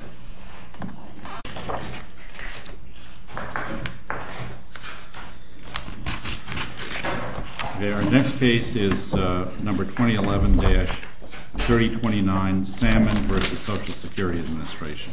2011-3029 Salmon v. Social Security Administration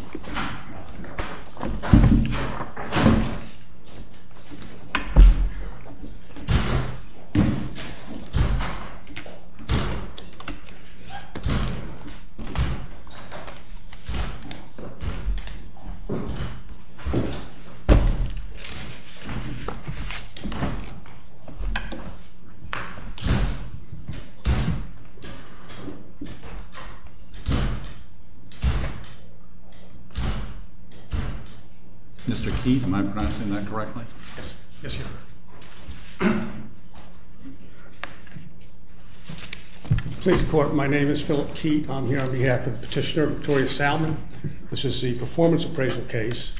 Mr. Keith, am I pronouncing that correctly? Yes, yes you are. Please report. My name is Philip Teat. I'm here on behalf of Petitioner Victoria Salmon. This is the performance appraisal case.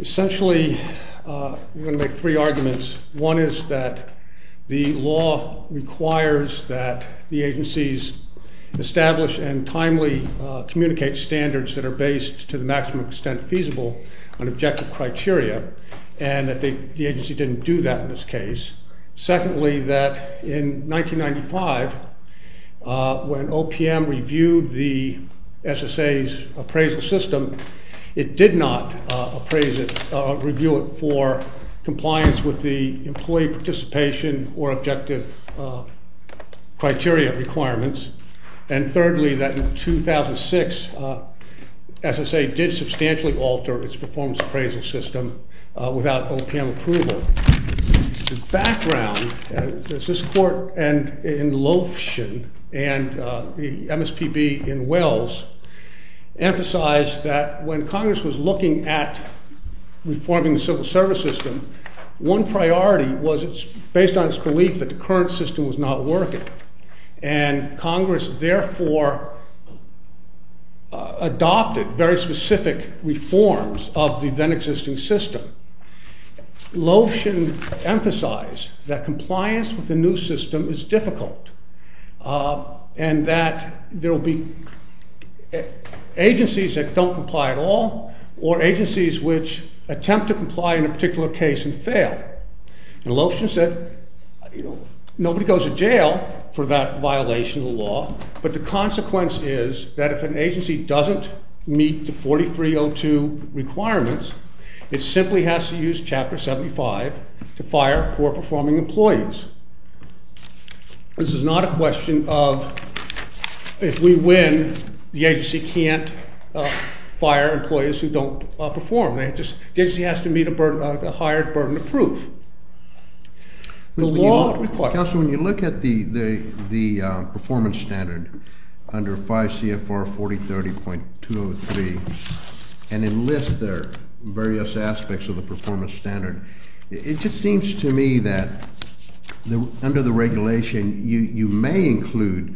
Essentially, we're going to make three arguments. One is that the law requires that the agencies establish and timely communicate standards that are based, to the maximum extent feasible, on objective criteria. And the agency didn't do that in this case. Secondly, that in 1995, when OPM reviewed the SSA's appraisal system, it did not review it for compliance with the employee participation or objective criteria requirements. And thirdly, that in 2006, SSA did substantially alter its performance appraisal system without OPM approval. The background, as this court in Lothian and the MSPB in Wells emphasized, that when Congress was looking at reforming the civil service system, one priority was based on its belief that the current system was not working. And Congress therefore adopted very specific reforms of the then existing system. Lothian emphasized that compliance with the new system is difficult. And that there will be agencies that don't comply at all or agencies which attempt to comply in a particular case and fail. And Lothian said, nobody goes to jail for that violation of the law. But the consequence is that if an agency doesn't meet the 4302 requirements, it simply has to use Chapter 75 to fire poor performing employees. This is not a question of if we win, the agency can't fire employees who don't perform. The agency has to meet a higher burden of proof. The law requires- Counsel, when you look at the performance standard under 5 CFR 4030.203, and enlist there various aspects of the performance standard, it just seems to me that under the regulation, you may include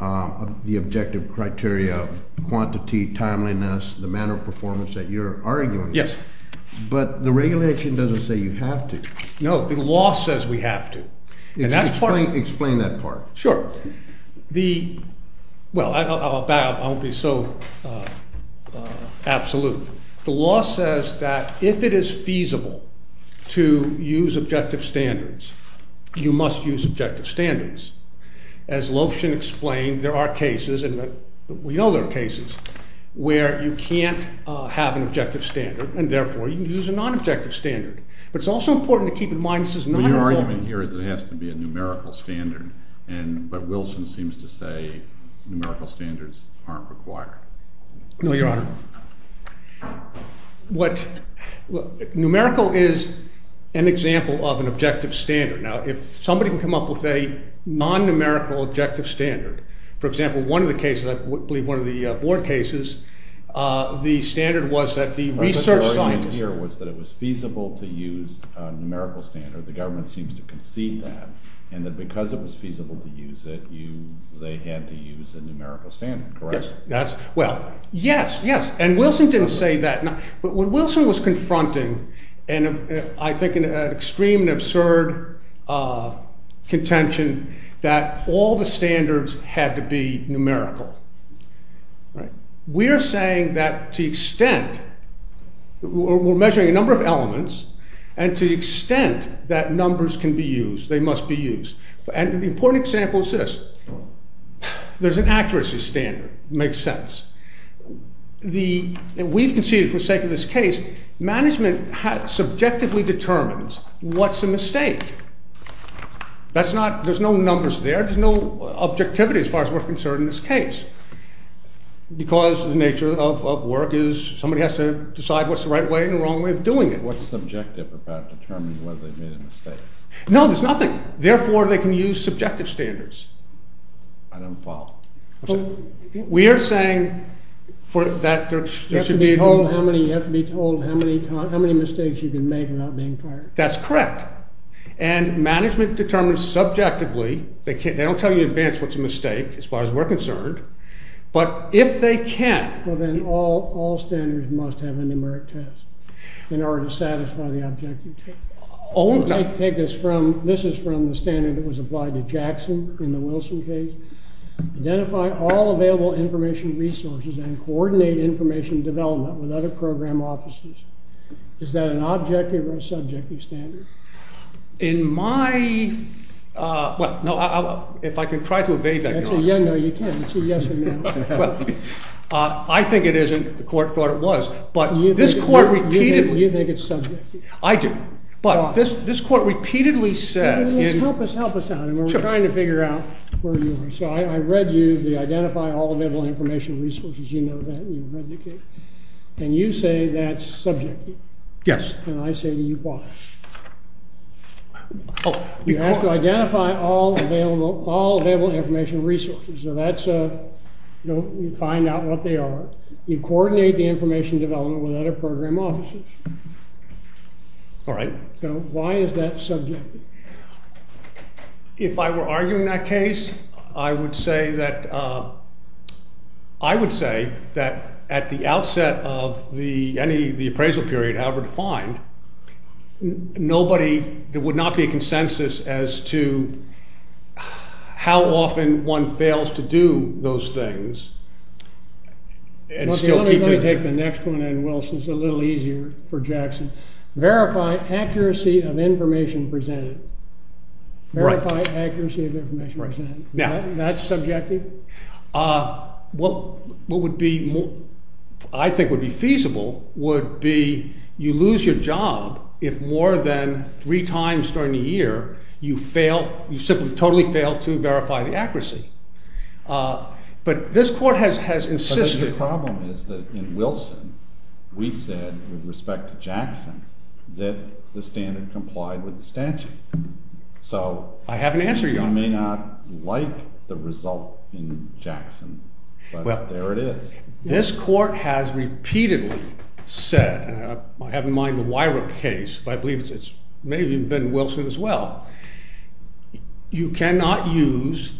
the objective criteria, quantity, timeliness, the manner of performance that you're arguing. Yes. But the regulation doesn't say you have to. No, the law says we have to. Explain that part. Sure. Well, I'll be so absolute. The law says that if it is feasible to use objective standards, you must use objective standards. As Lofshin explained, there are cases, and we know there are cases, where you can't have an objective standard, and therefore you can use a non-objective standard. But it's also important to keep in mind this is not a- But your argument here is it has to be a numerical standard. But Wilson seems to say numerical standards aren't required. No, Your Honor. Numerical is an example of an objective standard. Now, if somebody can come up with a non-numerical objective standard, for example, one of the cases, I believe one of the board cases, the standard was that the research scientist- But the argument here was that it was feasible to use a numerical standard. The government seems to concede that, and that because it was feasible to use it, they had to use a numerical standard, correct? Yes. Well, yes, yes. And Wilson didn't say that. But what Wilson was confronting, and I think an extreme and absurd contention, that all the standards had to be numerical. We're saying that to the extent- We're measuring a number of elements, and to the extent that numbers can be used, they must be used. And the important example is this. There's an accuracy standard. Makes sense. We've conceded for the sake of this case, management subjectively determines what's a mistake. There's no numbers there. There's no objectivity as far as we're concerned in this case. Because the nature of work is somebody has to decide what's the right way and the wrong way of doing it. What's subjective about determining whether they've made a mistake? No, there's nothing. Therefore, they can use subjective standards. I don't follow. We are saying that there should be- You have to be told how many mistakes you can make without being fired. That's correct. And management determines subjectively. They don't tell you in advance what's a mistake as far as we're concerned. But if they can- Well, then all standards must have a numeric test in order to satisfy the objective. Take this from- This is from the standard that was applied to Jackson in the Wilson case. Identify all available information resources and coordinate information development with other program offices. Is that an objective or a subjective standard? In my- Well, no. If I can try to evade that- No, you can't. It's a yes or no. Well, I think it isn't. The court thought it was. But this court repeatedly- You think it's subjective. I do. But this court repeatedly says- Help us out. We're trying to figure out where you are. So I read you the identify all available information resources. You know that. You read the case. And you say that's subjective. Yes. And I say you bought it. You have to identify all available information resources. So that's- You find out what they are. You coordinate the information development with other program offices. All right. So why is that subjective? If I were arguing that case, I would say that at the outset of the appraisal period, however defined, there would not be a consensus as to how often one fails to do those things and still keep- Let me take the next one. And Wilson's a little easier for Jackson. Verify accuracy of information presented. Verify accuracy of information presented. That's subjective? What would be, I think, would be feasible would be you lose your job if more than three times during the year, you fail, you simply totally fail to verify the accuracy. But this court has insisted- The problem is that in Wilson, we said, with respect to Jackson, that the standard complied with the statute. So- I have an answer, Your Honor. You may not like the result in Jackson, but there it is. This court has repeatedly said, I have in mind the Weirich case, but I believe it's maybe been Wilson as well, you cannot use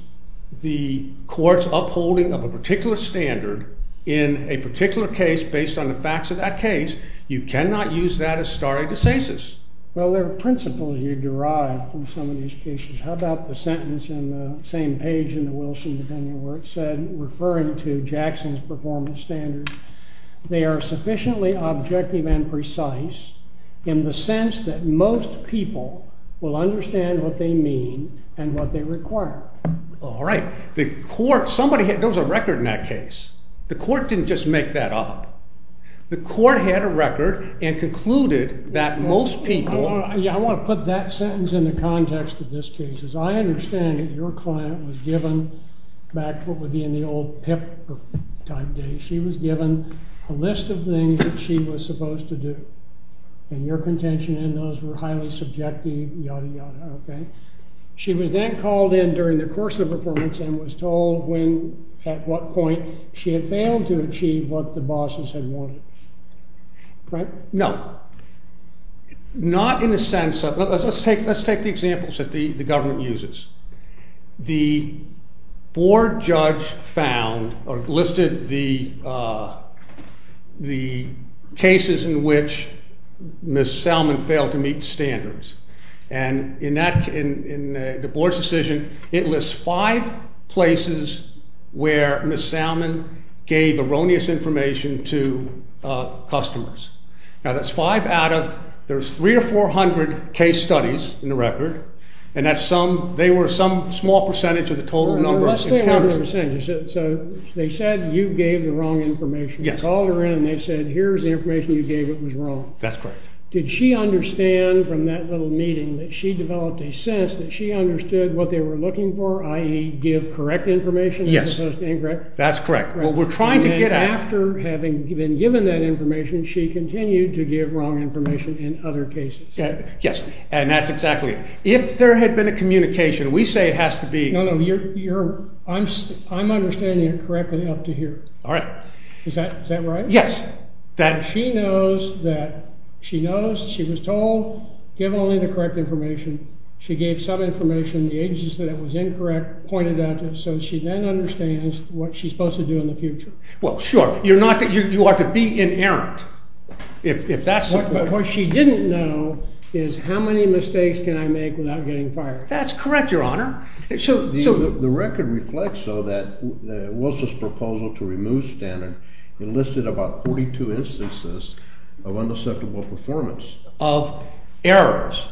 the court's upholding of a particular standard in a particular case based on the facts of that case. You cannot use that as stare decisis. Well, there are principles you derive from some of these cases. How about the sentence in the same page in the Wilson opinion where it said, referring to Jackson's performance standards, they are sufficiently objective and precise in the sense that most people will understand what they mean and what they require. All right. The court, somebody, there was a record in that case. The court didn't just make that up. The court had a record and concluded that most people- I want to put that sentence in the context of this case. Because I understand that your client was given back what would be in the old PIP type days. She was given a list of things that she was supposed to do. And your contention in those were highly subjective, yada, yada, okay? She was then called in during the course of the performance and was told when, at what point, she had failed to achieve what the bosses had wanted. Right? No. Not in the sense of- let's take the examples that the government uses. The board judge found or listed the cases in which Ms. Salmon failed to meet standards. And in the board's decision, it lists five places where Ms. Salmon gave erroneous information to customers. Now that's five out of- there's three or four hundred case studies in the record. And that's some- they were some small percentage of the total number of- So they said you gave the wrong information. You called her in and they said here's the information you gave that was wrong. That's correct. Did she understand from that little meeting that she developed a sense that she understood what they were looking for, i.e. give correct information as opposed to incorrect? Yes. That's correct. What we're trying to get at- And after having been given that information, she continued to give wrong information in other cases. Yes. And that's exactly it. If there had been a communication, we say it has to be- No, no. You're- I'm understanding it correctly up to here. All right. Is that right? Yes. That- She knows that- she knows she was told give only the correct information. She gave some information, the agency said it was incorrect, pointed at it, so she then understands what she's supposed to do in the future. Well, sure. You're not- you are to be inerrant. If that's- What she didn't know is how many mistakes can I make without getting fired. That's correct, Your Honor. So- The record reflects, though, that Wilson's proposal to remove Standard enlisted about 42 instances of unacceptable performance. Of? Errors.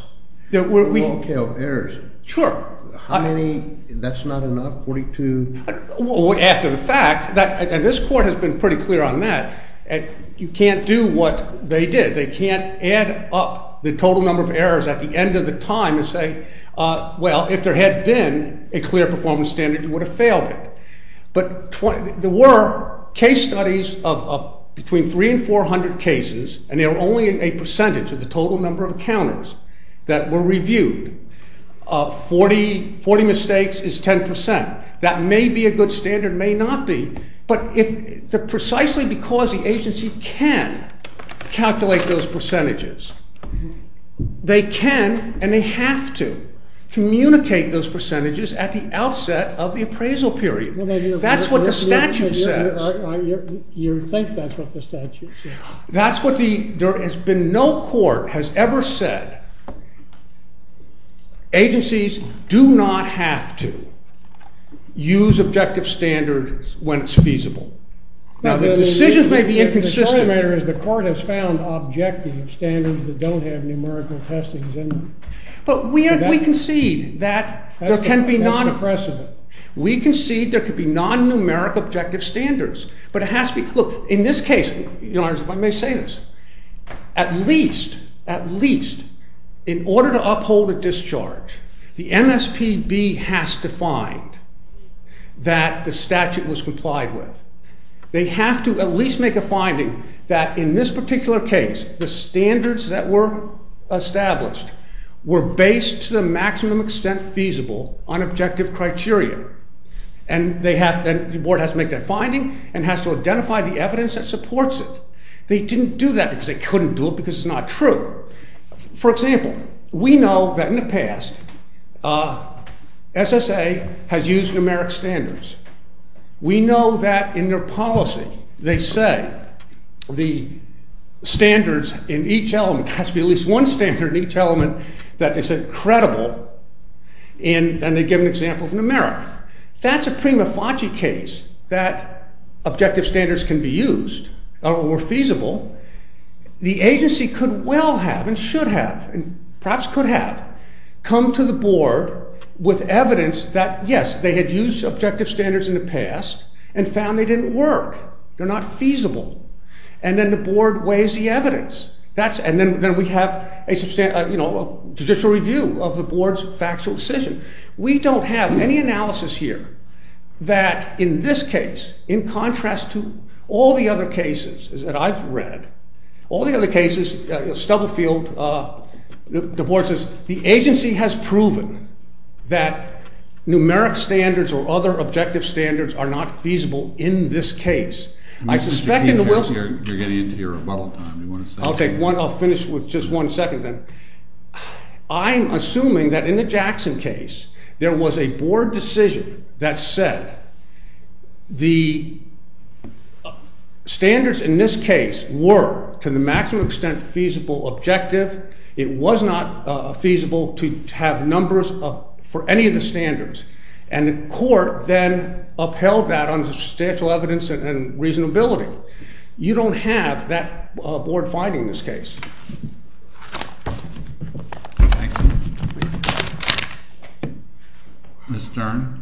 There were- A long tail of errors. Sure. How many- that's not enough? 42? After the fact, that- and this Court has been pretty clear on that. You can't do what they did. They can't add up the total number of errors at the end of the time and say, well, if there had been a clear performance standard, you would have failed it. But there were case studies of between 300 and 400 cases, and they were only a percentage of the total number of encounters that were reviewed. 40 mistakes is 10%. That may be a good standard, may not be, but if- precisely because the agency can calculate those percentages, they can and they have to communicate those percentages at the outset of the appraisal period. That's what the statute says. You think that's what the statute says. That's what the- there has been no court has ever said, agencies do not have to use objective standards when it's feasible. Now, the decision may be inconsistent. The point of the matter is the Court has found objective standards that don't have numerical testings in them. But we concede that there can be non- That's impressive. We concede there could be non-numeric objective standards. But it has to be- look, in this case, Your Honors, if I may say this, at least, at least, in order to uphold a discharge, the MSPB has to find that the statute was complied with. They have to at least make a finding that in this particular case, the standards that were established were based to the maximum extent feasible on objective criteria. And they have- the Board has to make that finding and has to identify the evidence that supports it. They didn't do that because they couldn't do it because it's not true. For example, we know that in the past, SSA has used numeric standards. We know that in their policy, they say the standards in each element has to be at least one standard in each element that is credible. And they give an example of numeric. That's a prima facie case that objective standards can be used or feasible. The agency could well have and should have and perhaps could have come to the Board with evidence that, yes, they had used objective standards in the past and found they didn't work. They're not feasible. And then the Board weighs the evidence. That's- and then we have a, you know, a judicial review of the Board's factual decision. We don't have any analysis here that in this case, in contrast to all the other cases that I've read, all the other cases, Stubblefield, the Board says the agency has proven that numeric standards or other objective standards are not feasible in this case. I suspect in the- You're getting into your rebuttal time. I'll take one- I'll finish with just one second then. I'm assuming that in the Jackson case, there was a Board decision that said the standards in this case were to the maximum extent feasible objective. It was not feasible to have numbers for any of the standards. And the court then upheld that under substantial evidence and reasonability. You don't have that Board finding in this case. Thank you. Ms. Stern.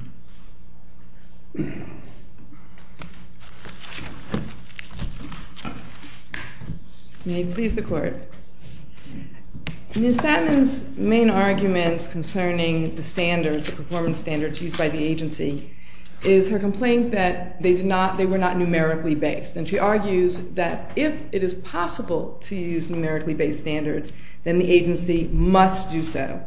Ms. Satmon's main argument concerning the standards, the performance standards used by the agency, is her complaint that they did not- they were not numerically based. And she argues that if it is possible to use numerically based standards, then the agency must do so.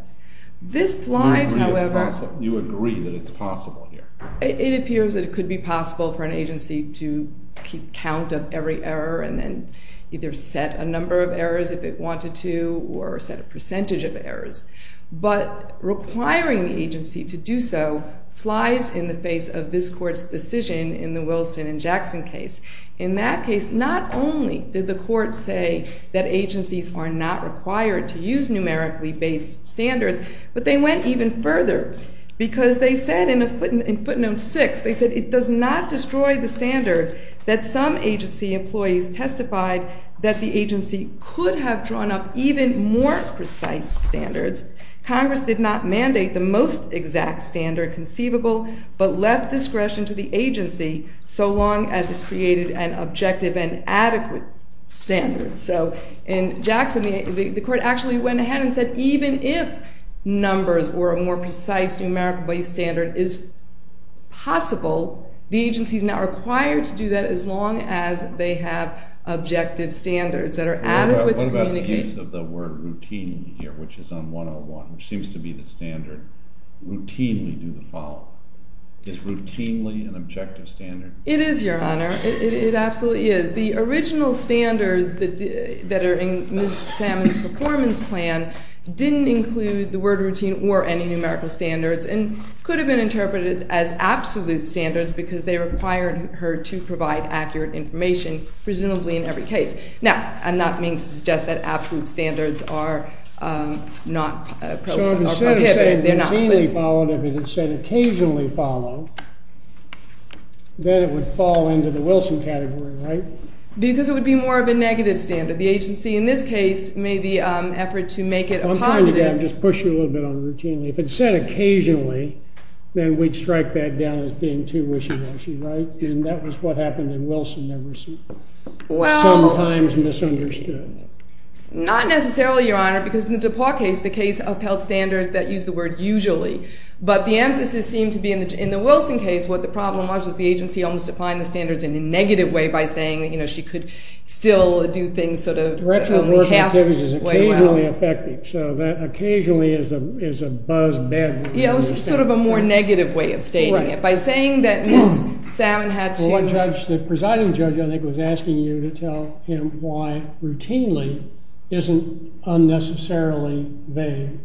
This flies, however- You agree that it's possible here. It appears that it could be possible for an agency to keep count of every error and then either set a number of errors if it wanted to or set a percentage of errors. But requiring the agency to do so flies in the face of this Court's decision in the Wilson and Jackson case. In that case, not only did the Court say that agencies are not required to use numerically based standards, but they went even further because they said in footnote 6, they said, it does not destroy the standard that some agency employees testified that the agency could have drawn up even more precise standards. Congress did not mandate the most exact standard conceivable, but left discretion to the agency so long as it created an objective and adequate standard. So in Jackson, the Court actually went ahead and said even if numbers or a more precise numerically based standard is possible, the agency is now required to do that as long as they have objective standards that are adequate to communicate- What about the use of the word routinely here, which is on 101, which seems to be the standard, routinely do the following. Is routinely an objective standard? It is, Your Honor. It absolutely is. The original standards that are in Ms. Salmon's performance plan didn't include the word routine or any numerical standards and could have been interpreted as absolute standards because they required her to provide accurate information, presumably in every case. Now, I'm not meaning to suggest that absolute standards are not prohibitive. If it said occasionally follow, then it would fall into the Wilson category, right? Because it would be more of a negative standard. The agency in this case made the effort to make it a positive- I'm trying to push you a little bit on routinely. If it said occasionally, then we'd strike that down as being too wishy-washy, right? And that was what happened in Wilson that was sometimes misunderstood. Not necessarily, Your Honor, because in the DePauw case, the case upheld standards that used the word usually. But the emphasis seemed to be in the Wilson case, what the problem was, was the agency almost defined the standards in a negative way by saying that she could still do things sort of only half way around. Direction of work activities is occasionally effective, so that occasionally is a buzz bed. Yeah, it was sort of a more negative way of stating it. By saying that Ms. Salmon had to- The presiding judge, I think, was asking you to tell him why routinely isn't unnecessarily vague.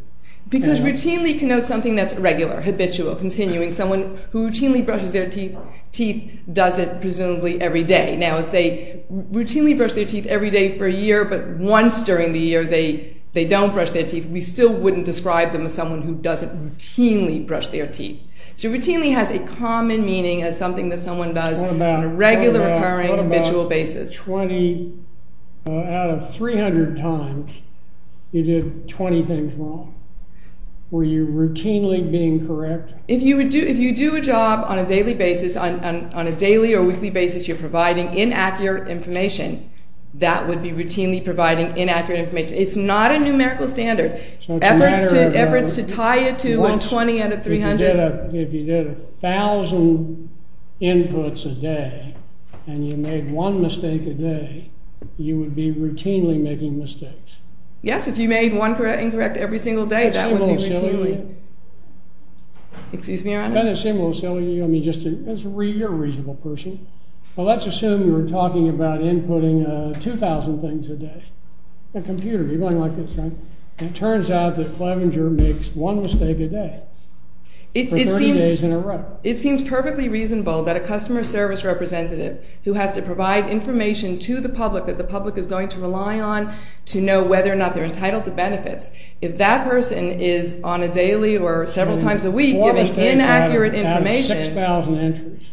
Because routinely connotes something that's regular, habitual, continuing. Someone who routinely brushes their teeth does it presumably every day. Now, if they routinely brush their teeth every day for a year, but once during the year they don't brush their teeth, we still wouldn't describe them as someone who doesn't routinely brush their teeth. So routinely has a common meaning as something that someone does on a regular, recurring, habitual basis. What about 20 out of 300 times you did 20 things wrong? Were you routinely being correct? If you do a job on a daily basis, on a daily or weekly basis, you're providing inaccurate information, that would be routinely providing inaccurate information. It's not a numerical standard. Efforts to tie it to a 20 out of 300. If you did 1,000 inputs a day and you made one mistake a day, you would be routinely making mistakes. Yes, if you made one incorrect every single day, that would be routinely. Kind of similar to silly. Excuse me, Your Honor. Kind of similar to silly. You're a reasonable person. Let's assume we're talking about inputting 2,000 things a day. On a computer, you're going like this, right? And it turns out that Clevenger makes one mistake a day for 30 days in a row. It seems perfectly reasonable that a customer service representative who has to provide information to the public that the public is going to rely on to know whether or not they're entitled to benefits, if that person is on a daily or several times a week giving inaccurate information. Out of 6,000 entries.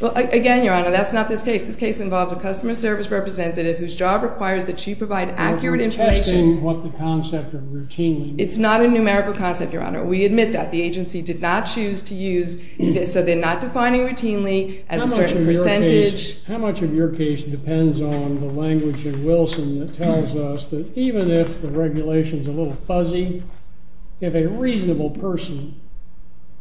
Well, again, Your Honor, that's not this case. This case involves a customer service representative whose job requires that she provide accurate information. You're testing what the concept of routinely means. It's not a numerical concept, Your Honor. We admit that. The agency did not choose to use this, so they're not defining routinely as a certain percentage. How much of your case depends on the language in Wilson that tells us that even if the regulation is a little fuzzy, if a reasonable person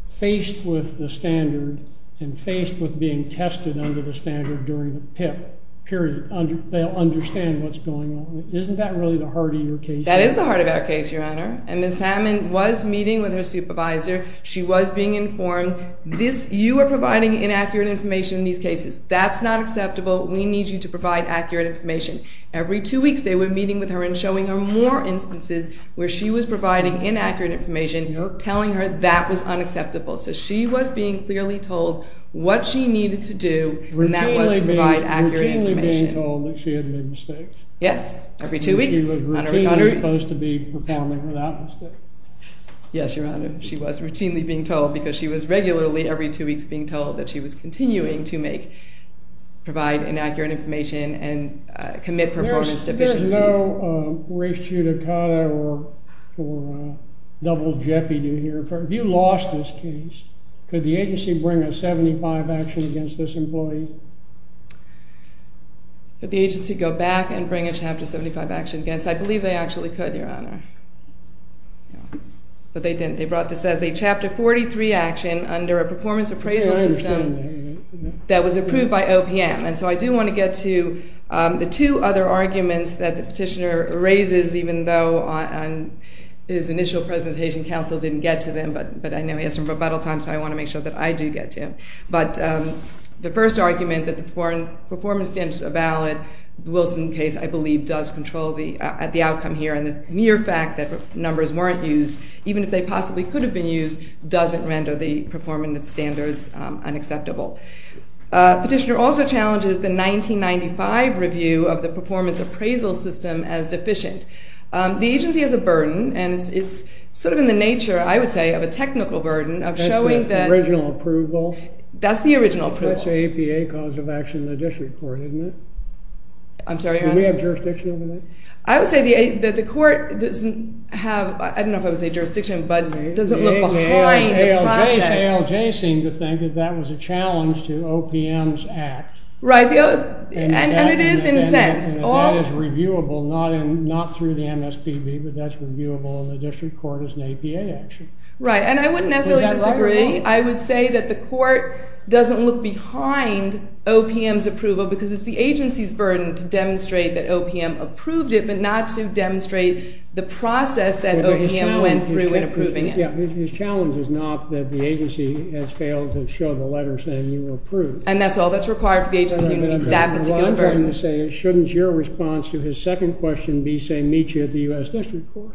faced with the standard and faced with being tested under the standard during the PIP, period, they'll understand what's going on. Isn't that really the heart of your case? That is the heart of our case, Your Honor. And Ms. Hammond was meeting with her supervisor. She was being informed. You are providing inaccurate information in these cases. That's not acceptable. We need you to provide accurate information. Every two weeks they were meeting with her and showing her more instances where she was providing inaccurate information, telling her that was unacceptable. So she was being clearly told what she needed to do, and that was to provide accurate information. Routinely being told that she had made mistakes? Yes, every two weeks. She was routinely supposed to be performing without mistakes? Yes, Your Honor. She was routinely being told because she was regularly, every two weeks, being told that she was continuing to provide inaccurate information and commit performance deficiencies. There's no race judicata or double jeopardy here. If you lost this case, could the agency bring a 75 action against this employee? Could the agency go back and bring a Chapter 75 action against it? I believe they actually could, Your Honor. But they didn't. They brought this as a Chapter 43 action under a performance appraisal system that was approved by OPM. And so I do want to get to the two other arguments that the petitioner raises, even though on his initial presentation, counsel didn't get to them. But I know he has some rebuttal time, so I want to make sure that I do get to him. But the first argument that the performance standards are valid, the Wilson case, I believe, does control the outcome here. And the mere fact that numbers weren't used, even if they possibly could have been used, doesn't render the performance standards unacceptable. Petitioner also challenges the 1995 review of the performance appraisal system as deficient. The agency has a burden, and it's sort of in the nature, I would say, of a technical burden of showing that… That's the original approval? That's the original approval. That's the APA cause of action in the district court, isn't it? I'm sorry, Your Honor? Do we have jurisdiction over that? I would say that the court doesn't have, I don't know if I would say jurisdiction, but doesn't look behind the process. The ALJ seemed to think that that was a challenge to OPM's act. Right, and it is in a sense. That is reviewable, not through the MSPB, but that's reviewable in the district court as an APA action. Right, and I wouldn't necessarily disagree. I would say that the court doesn't look behind OPM's approval because it's the agency's burden to demonstrate that OPM approved it, but not to demonstrate the process that OPM went through in approving it. His challenge is not that the agency has failed to show the letter saying you were approved. And that's all that's required for the agency to meet that particular burden. The agency's burden is saying, shouldn't your response to his second question be, say, meet you at the U.S. district court?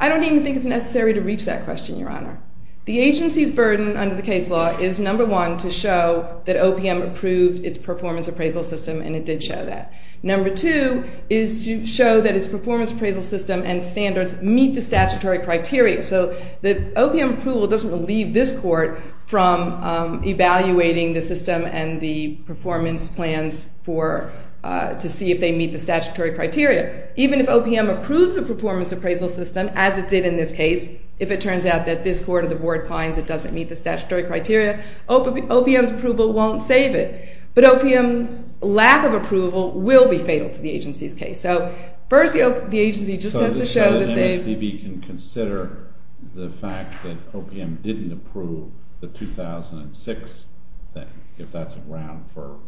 I don't even think it's necessary to reach that question, Your Honor. The agency's burden under the case law is, number one, to show that OPM approved its performance appraisal system, and it did show that. Number two is to show that its performance appraisal system and standards meet the statutory criteria. So the OPM approval doesn't relieve this court from evaluating the system and the performance plans to see if they meet the statutory criteria. Even if OPM approves the performance appraisal system, as it did in this case, if it turns out that this court or the board finds it doesn't meet the statutory criteria, OPM's approval won't save it. But OPM's lack of approval will be fatal to the agency's case. So first, the agency just has to show that they— So the MSPB can consider the fact that OPM didn't approve the 2006 thing, if that's around for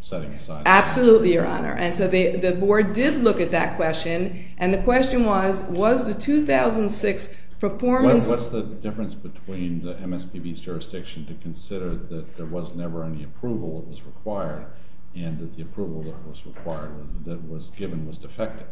setting aside— Absolutely, Your Honor. And so the board did look at that question, and the question was, was the 2006 performance— What's the difference between the MSPB's jurisdiction to consider that there was never any approval that was required and that the approval that was required, that was given, was defective?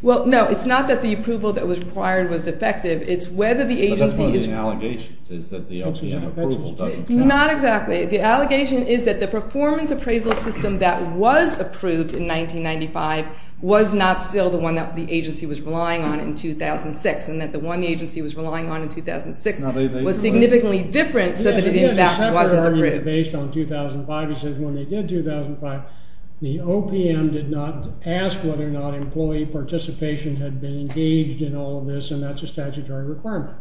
Well, no, it's not that the approval that was required was defective. It's whether the agency is— But that's one of the allegations, is that the OPM approval doesn't count. Not exactly. The allegation is that the performance appraisal system that was approved in 1995 was not still the one that the agency was relying on in 2006, and that the one the agency was relying on in 2006 was significantly different so that it, in fact, wasn't approved. Based on 2005, he says when they did 2005, the OPM did not ask whether or not employee participation had been engaged in all of this, and that's a statutory requirement.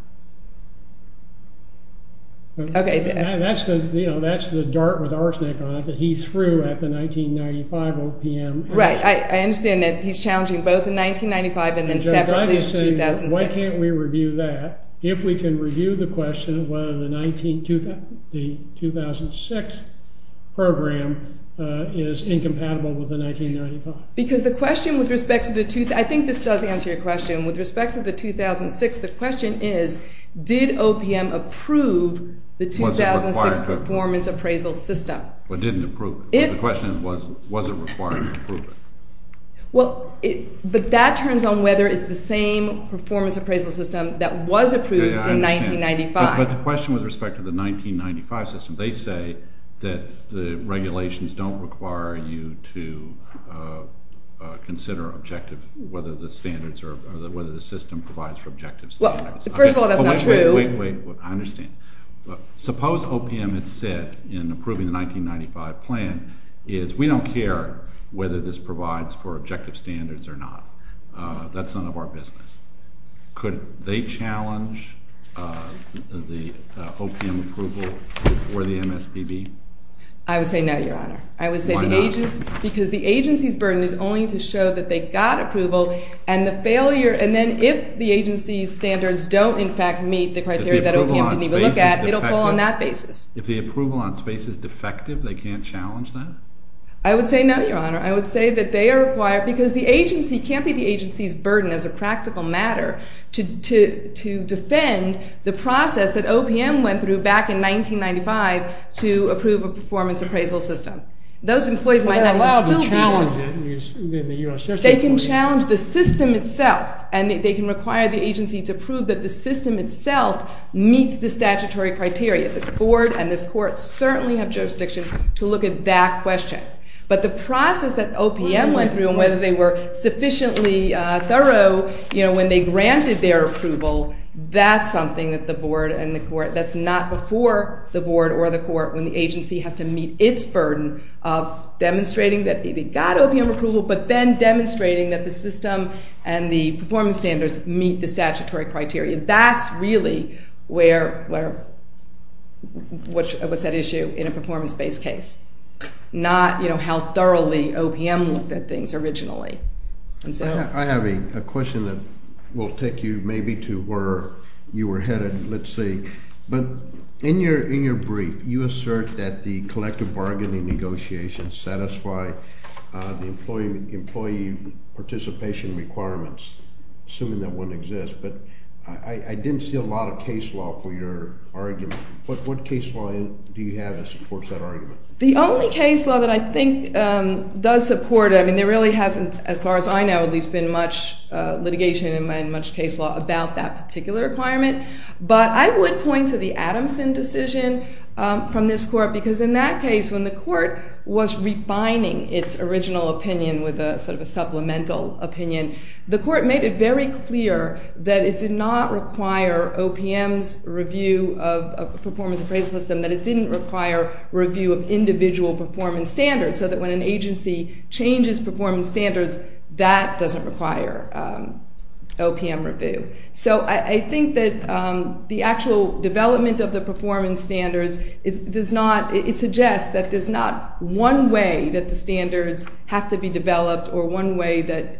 Okay. That's the, you know, that's the dart with arsenic on it that he threw at the 1995 OPM— Right, I understand that he's challenging both the 1995 and then separately the 2006. Why can't we review that if we can review the question of whether the 2006 program is incompatible with the 1995? Because the question with respect to the—I think this does answer your question. With respect to the 2006, the question is, did OPM approve the 2006 performance appraisal system? Or didn't approve it? If— The question was, was it required to approve it? Well, but that turns on whether it's the same performance appraisal system that was approved in 1995. But the question with respect to the 1995 system, they say that the regulations don't require you to consider objective, whether the standards are—whether the system provides for objective standards. First of all, that's not true. Wait, wait, wait. I understand. Suppose OPM had said in approving the 1995 plan is we don't care whether this provides for objective standards or not. That's none of our business. Could they challenge the OPM approval for the MSPB? I would say no, Your Honor. I would say the agency— Why not? Because the agency's burden is only to show that they got approval and the failure— And then if the agency's standards don't, in fact, meet the criteria that OPM didn't even look at, it'll fall on that basis. If the approval on space is defective, they can't challenge that? I would say no, Your Honor. I would say that they are required—because the agency—it can't be the agency's burden as a practical matter to defend the process that OPM went through back in 1995 to approve a performance appraisal system. Those employees might not— They're allowed to challenge it in the U.S. system. They can challenge the system itself, and they can require the agency to prove that the system itself meets the statutory criteria. The board and this court certainly have jurisdiction to look at that question. But the process that OPM went through and whether they were sufficiently thorough when they granted their approval, that's something that the board and the court— and the performance standards meet the statutory criteria. That's really where—what's at issue in a performance-based case, not how thoroughly OPM looked at things originally. I have a question that will take you maybe to where you were headed. Let's see. But in your brief, you assert that the collective bargaining negotiations satisfy the employee participation requirements, assuming that one exists. But I didn't see a lot of case law for your argument. What case law do you have that supports that argument? The only case law that I think does support it—I mean, there really hasn't, as far as I know, at least been much litigation and much case law about that particular requirement. But I would point to the Adamson decision from this court because in that case, when the court was refining its original opinion with sort of a supplemental opinion, the court made it very clear that it did not require OPM's review of a performance appraisal system, that it didn't require review of individual performance standards, so that when an agency changes performance standards, that doesn't require OPM review. So I think that the actual development of the performance standards does not—it suggests that there's not one way that the standards have to be developed or one way that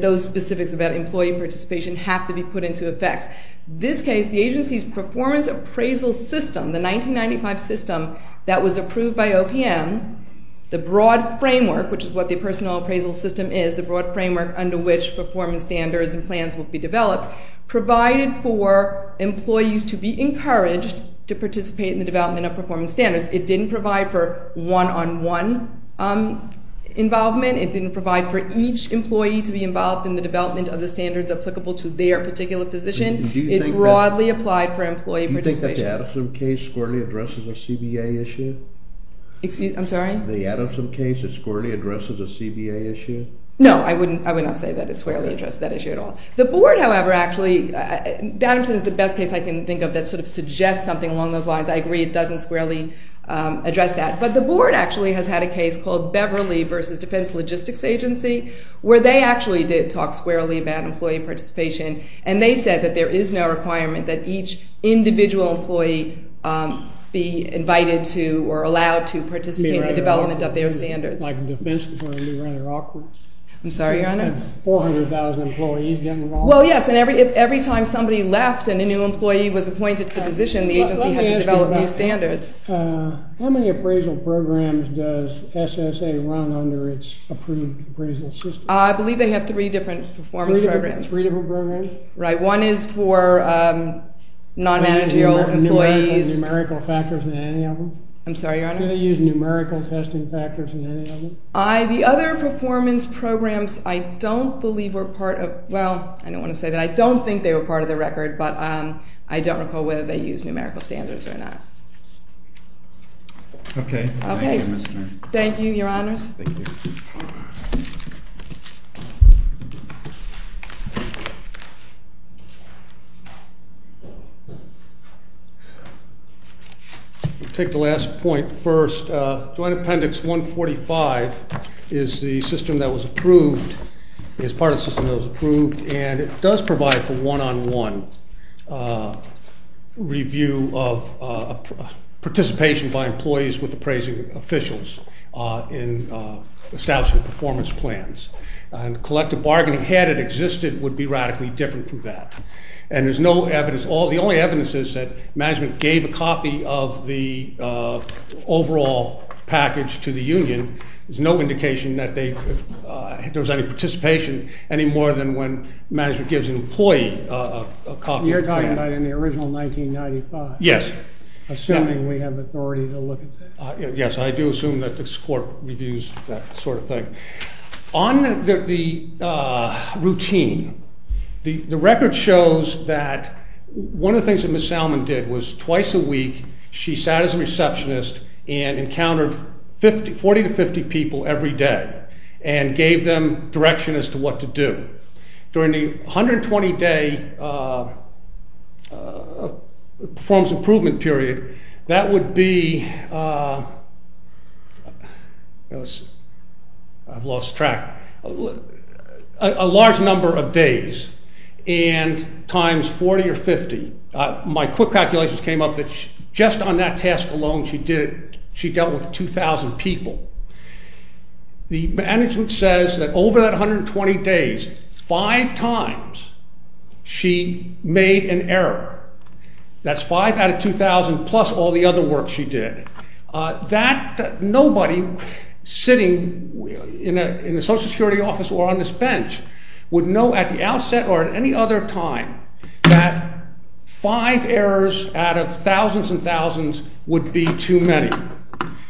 those specifics about employee participation have to be put into effect. This case, the agency's performance appraisal system, the 1995 system that was approved by OPM, the broad framework, which is what the personal appraisal system is, the broad framework under which performance standards and plans will be developed, provided for employees to be encouraged to participate in the development of performance standards. It didn't provide for one-on-one involvement. It didn't provide for each employee to be involved in the development of the standards applicable to their particular position. It broadly applied for employee participation. Do you think that the Adamson case squarely addresses a CBA issue? I'm sorry? The Adamson case squarely addresses a CBA issue? No, I would not say that it squarely addresses that issue at all. The board, however, actually—the Adamson is the best case I can think of that sort of suggests something along those lines. I agree it doesn't squarely address that. But the board actually has had a case called Beverly versus Defense Logistics Agency, where they actually did talk squarely about employee participation, and they said that there is no requirement that each individual employee be invited to or allowed to participate in the development of their standards. Like in defense before you run it awkward? I'm sorry, Your Honor? 400,000 employees getting involved? Well, yes, and every time somebody left and a new employee was appointed to the position, the agency had to develop new standards. How many appraisal programs does SSA run under its approved appraisal system? I believe they have three different performance programs. Three different programs? Right. One is for non-managerial employees. Do they use numerical factors in any of them? I'm sorry, Your Honor? Do they use numerical testing factors in any of them? The other performance programs I don't believe were part of—well, I don't want to say that I don't think they were part of the record, but I don't recall whether they used numerical standards or not. Okay. Thank you, Mr.— Thank you, Your Honors. Thank you. I'll take the last point first. Joint Appendix 145 is the system that was approved, is part of the system that was approved, and it does provide for one-on-one review of participation by employees with appraising officials in establishing performance plans. And collective bargaining, had it existed, would be radically different from that. And there's no evidence—the only evidence is that management gave a copy of the overall package to the union. There's no indication that there was any participation any more than when management gives an employee a copy. You're talking about in the original 1995? Yes. Assuming we have authority to look at that? Yes, I do assume that this Court reviews that sort of thing. On the routine, the record shows that one of the things that Ms. Salmon did was twice a week she sat as a receptionist and encountered 40 to 50 people every day and gave them direction as to what to do. During the 120-day performance improvement period, that would be—I've lost track—a large number of days and times 40 or 50. My quick calculations came up that just on that task alone she dealt with 2,000 people. The management says that over that 120 days, five times she made an error. That's five out of 2,000 plus all the other work she did. That—nobody sitting in a Social Security office or on this bench would know at the outset or at any other time that five errors out of thousands and thousands would be too many.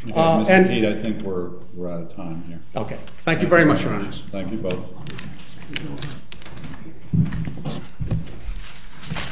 Mr. Peat, I think we're out of time here. Okay. Thank you very much, Your Honor. Thank you both.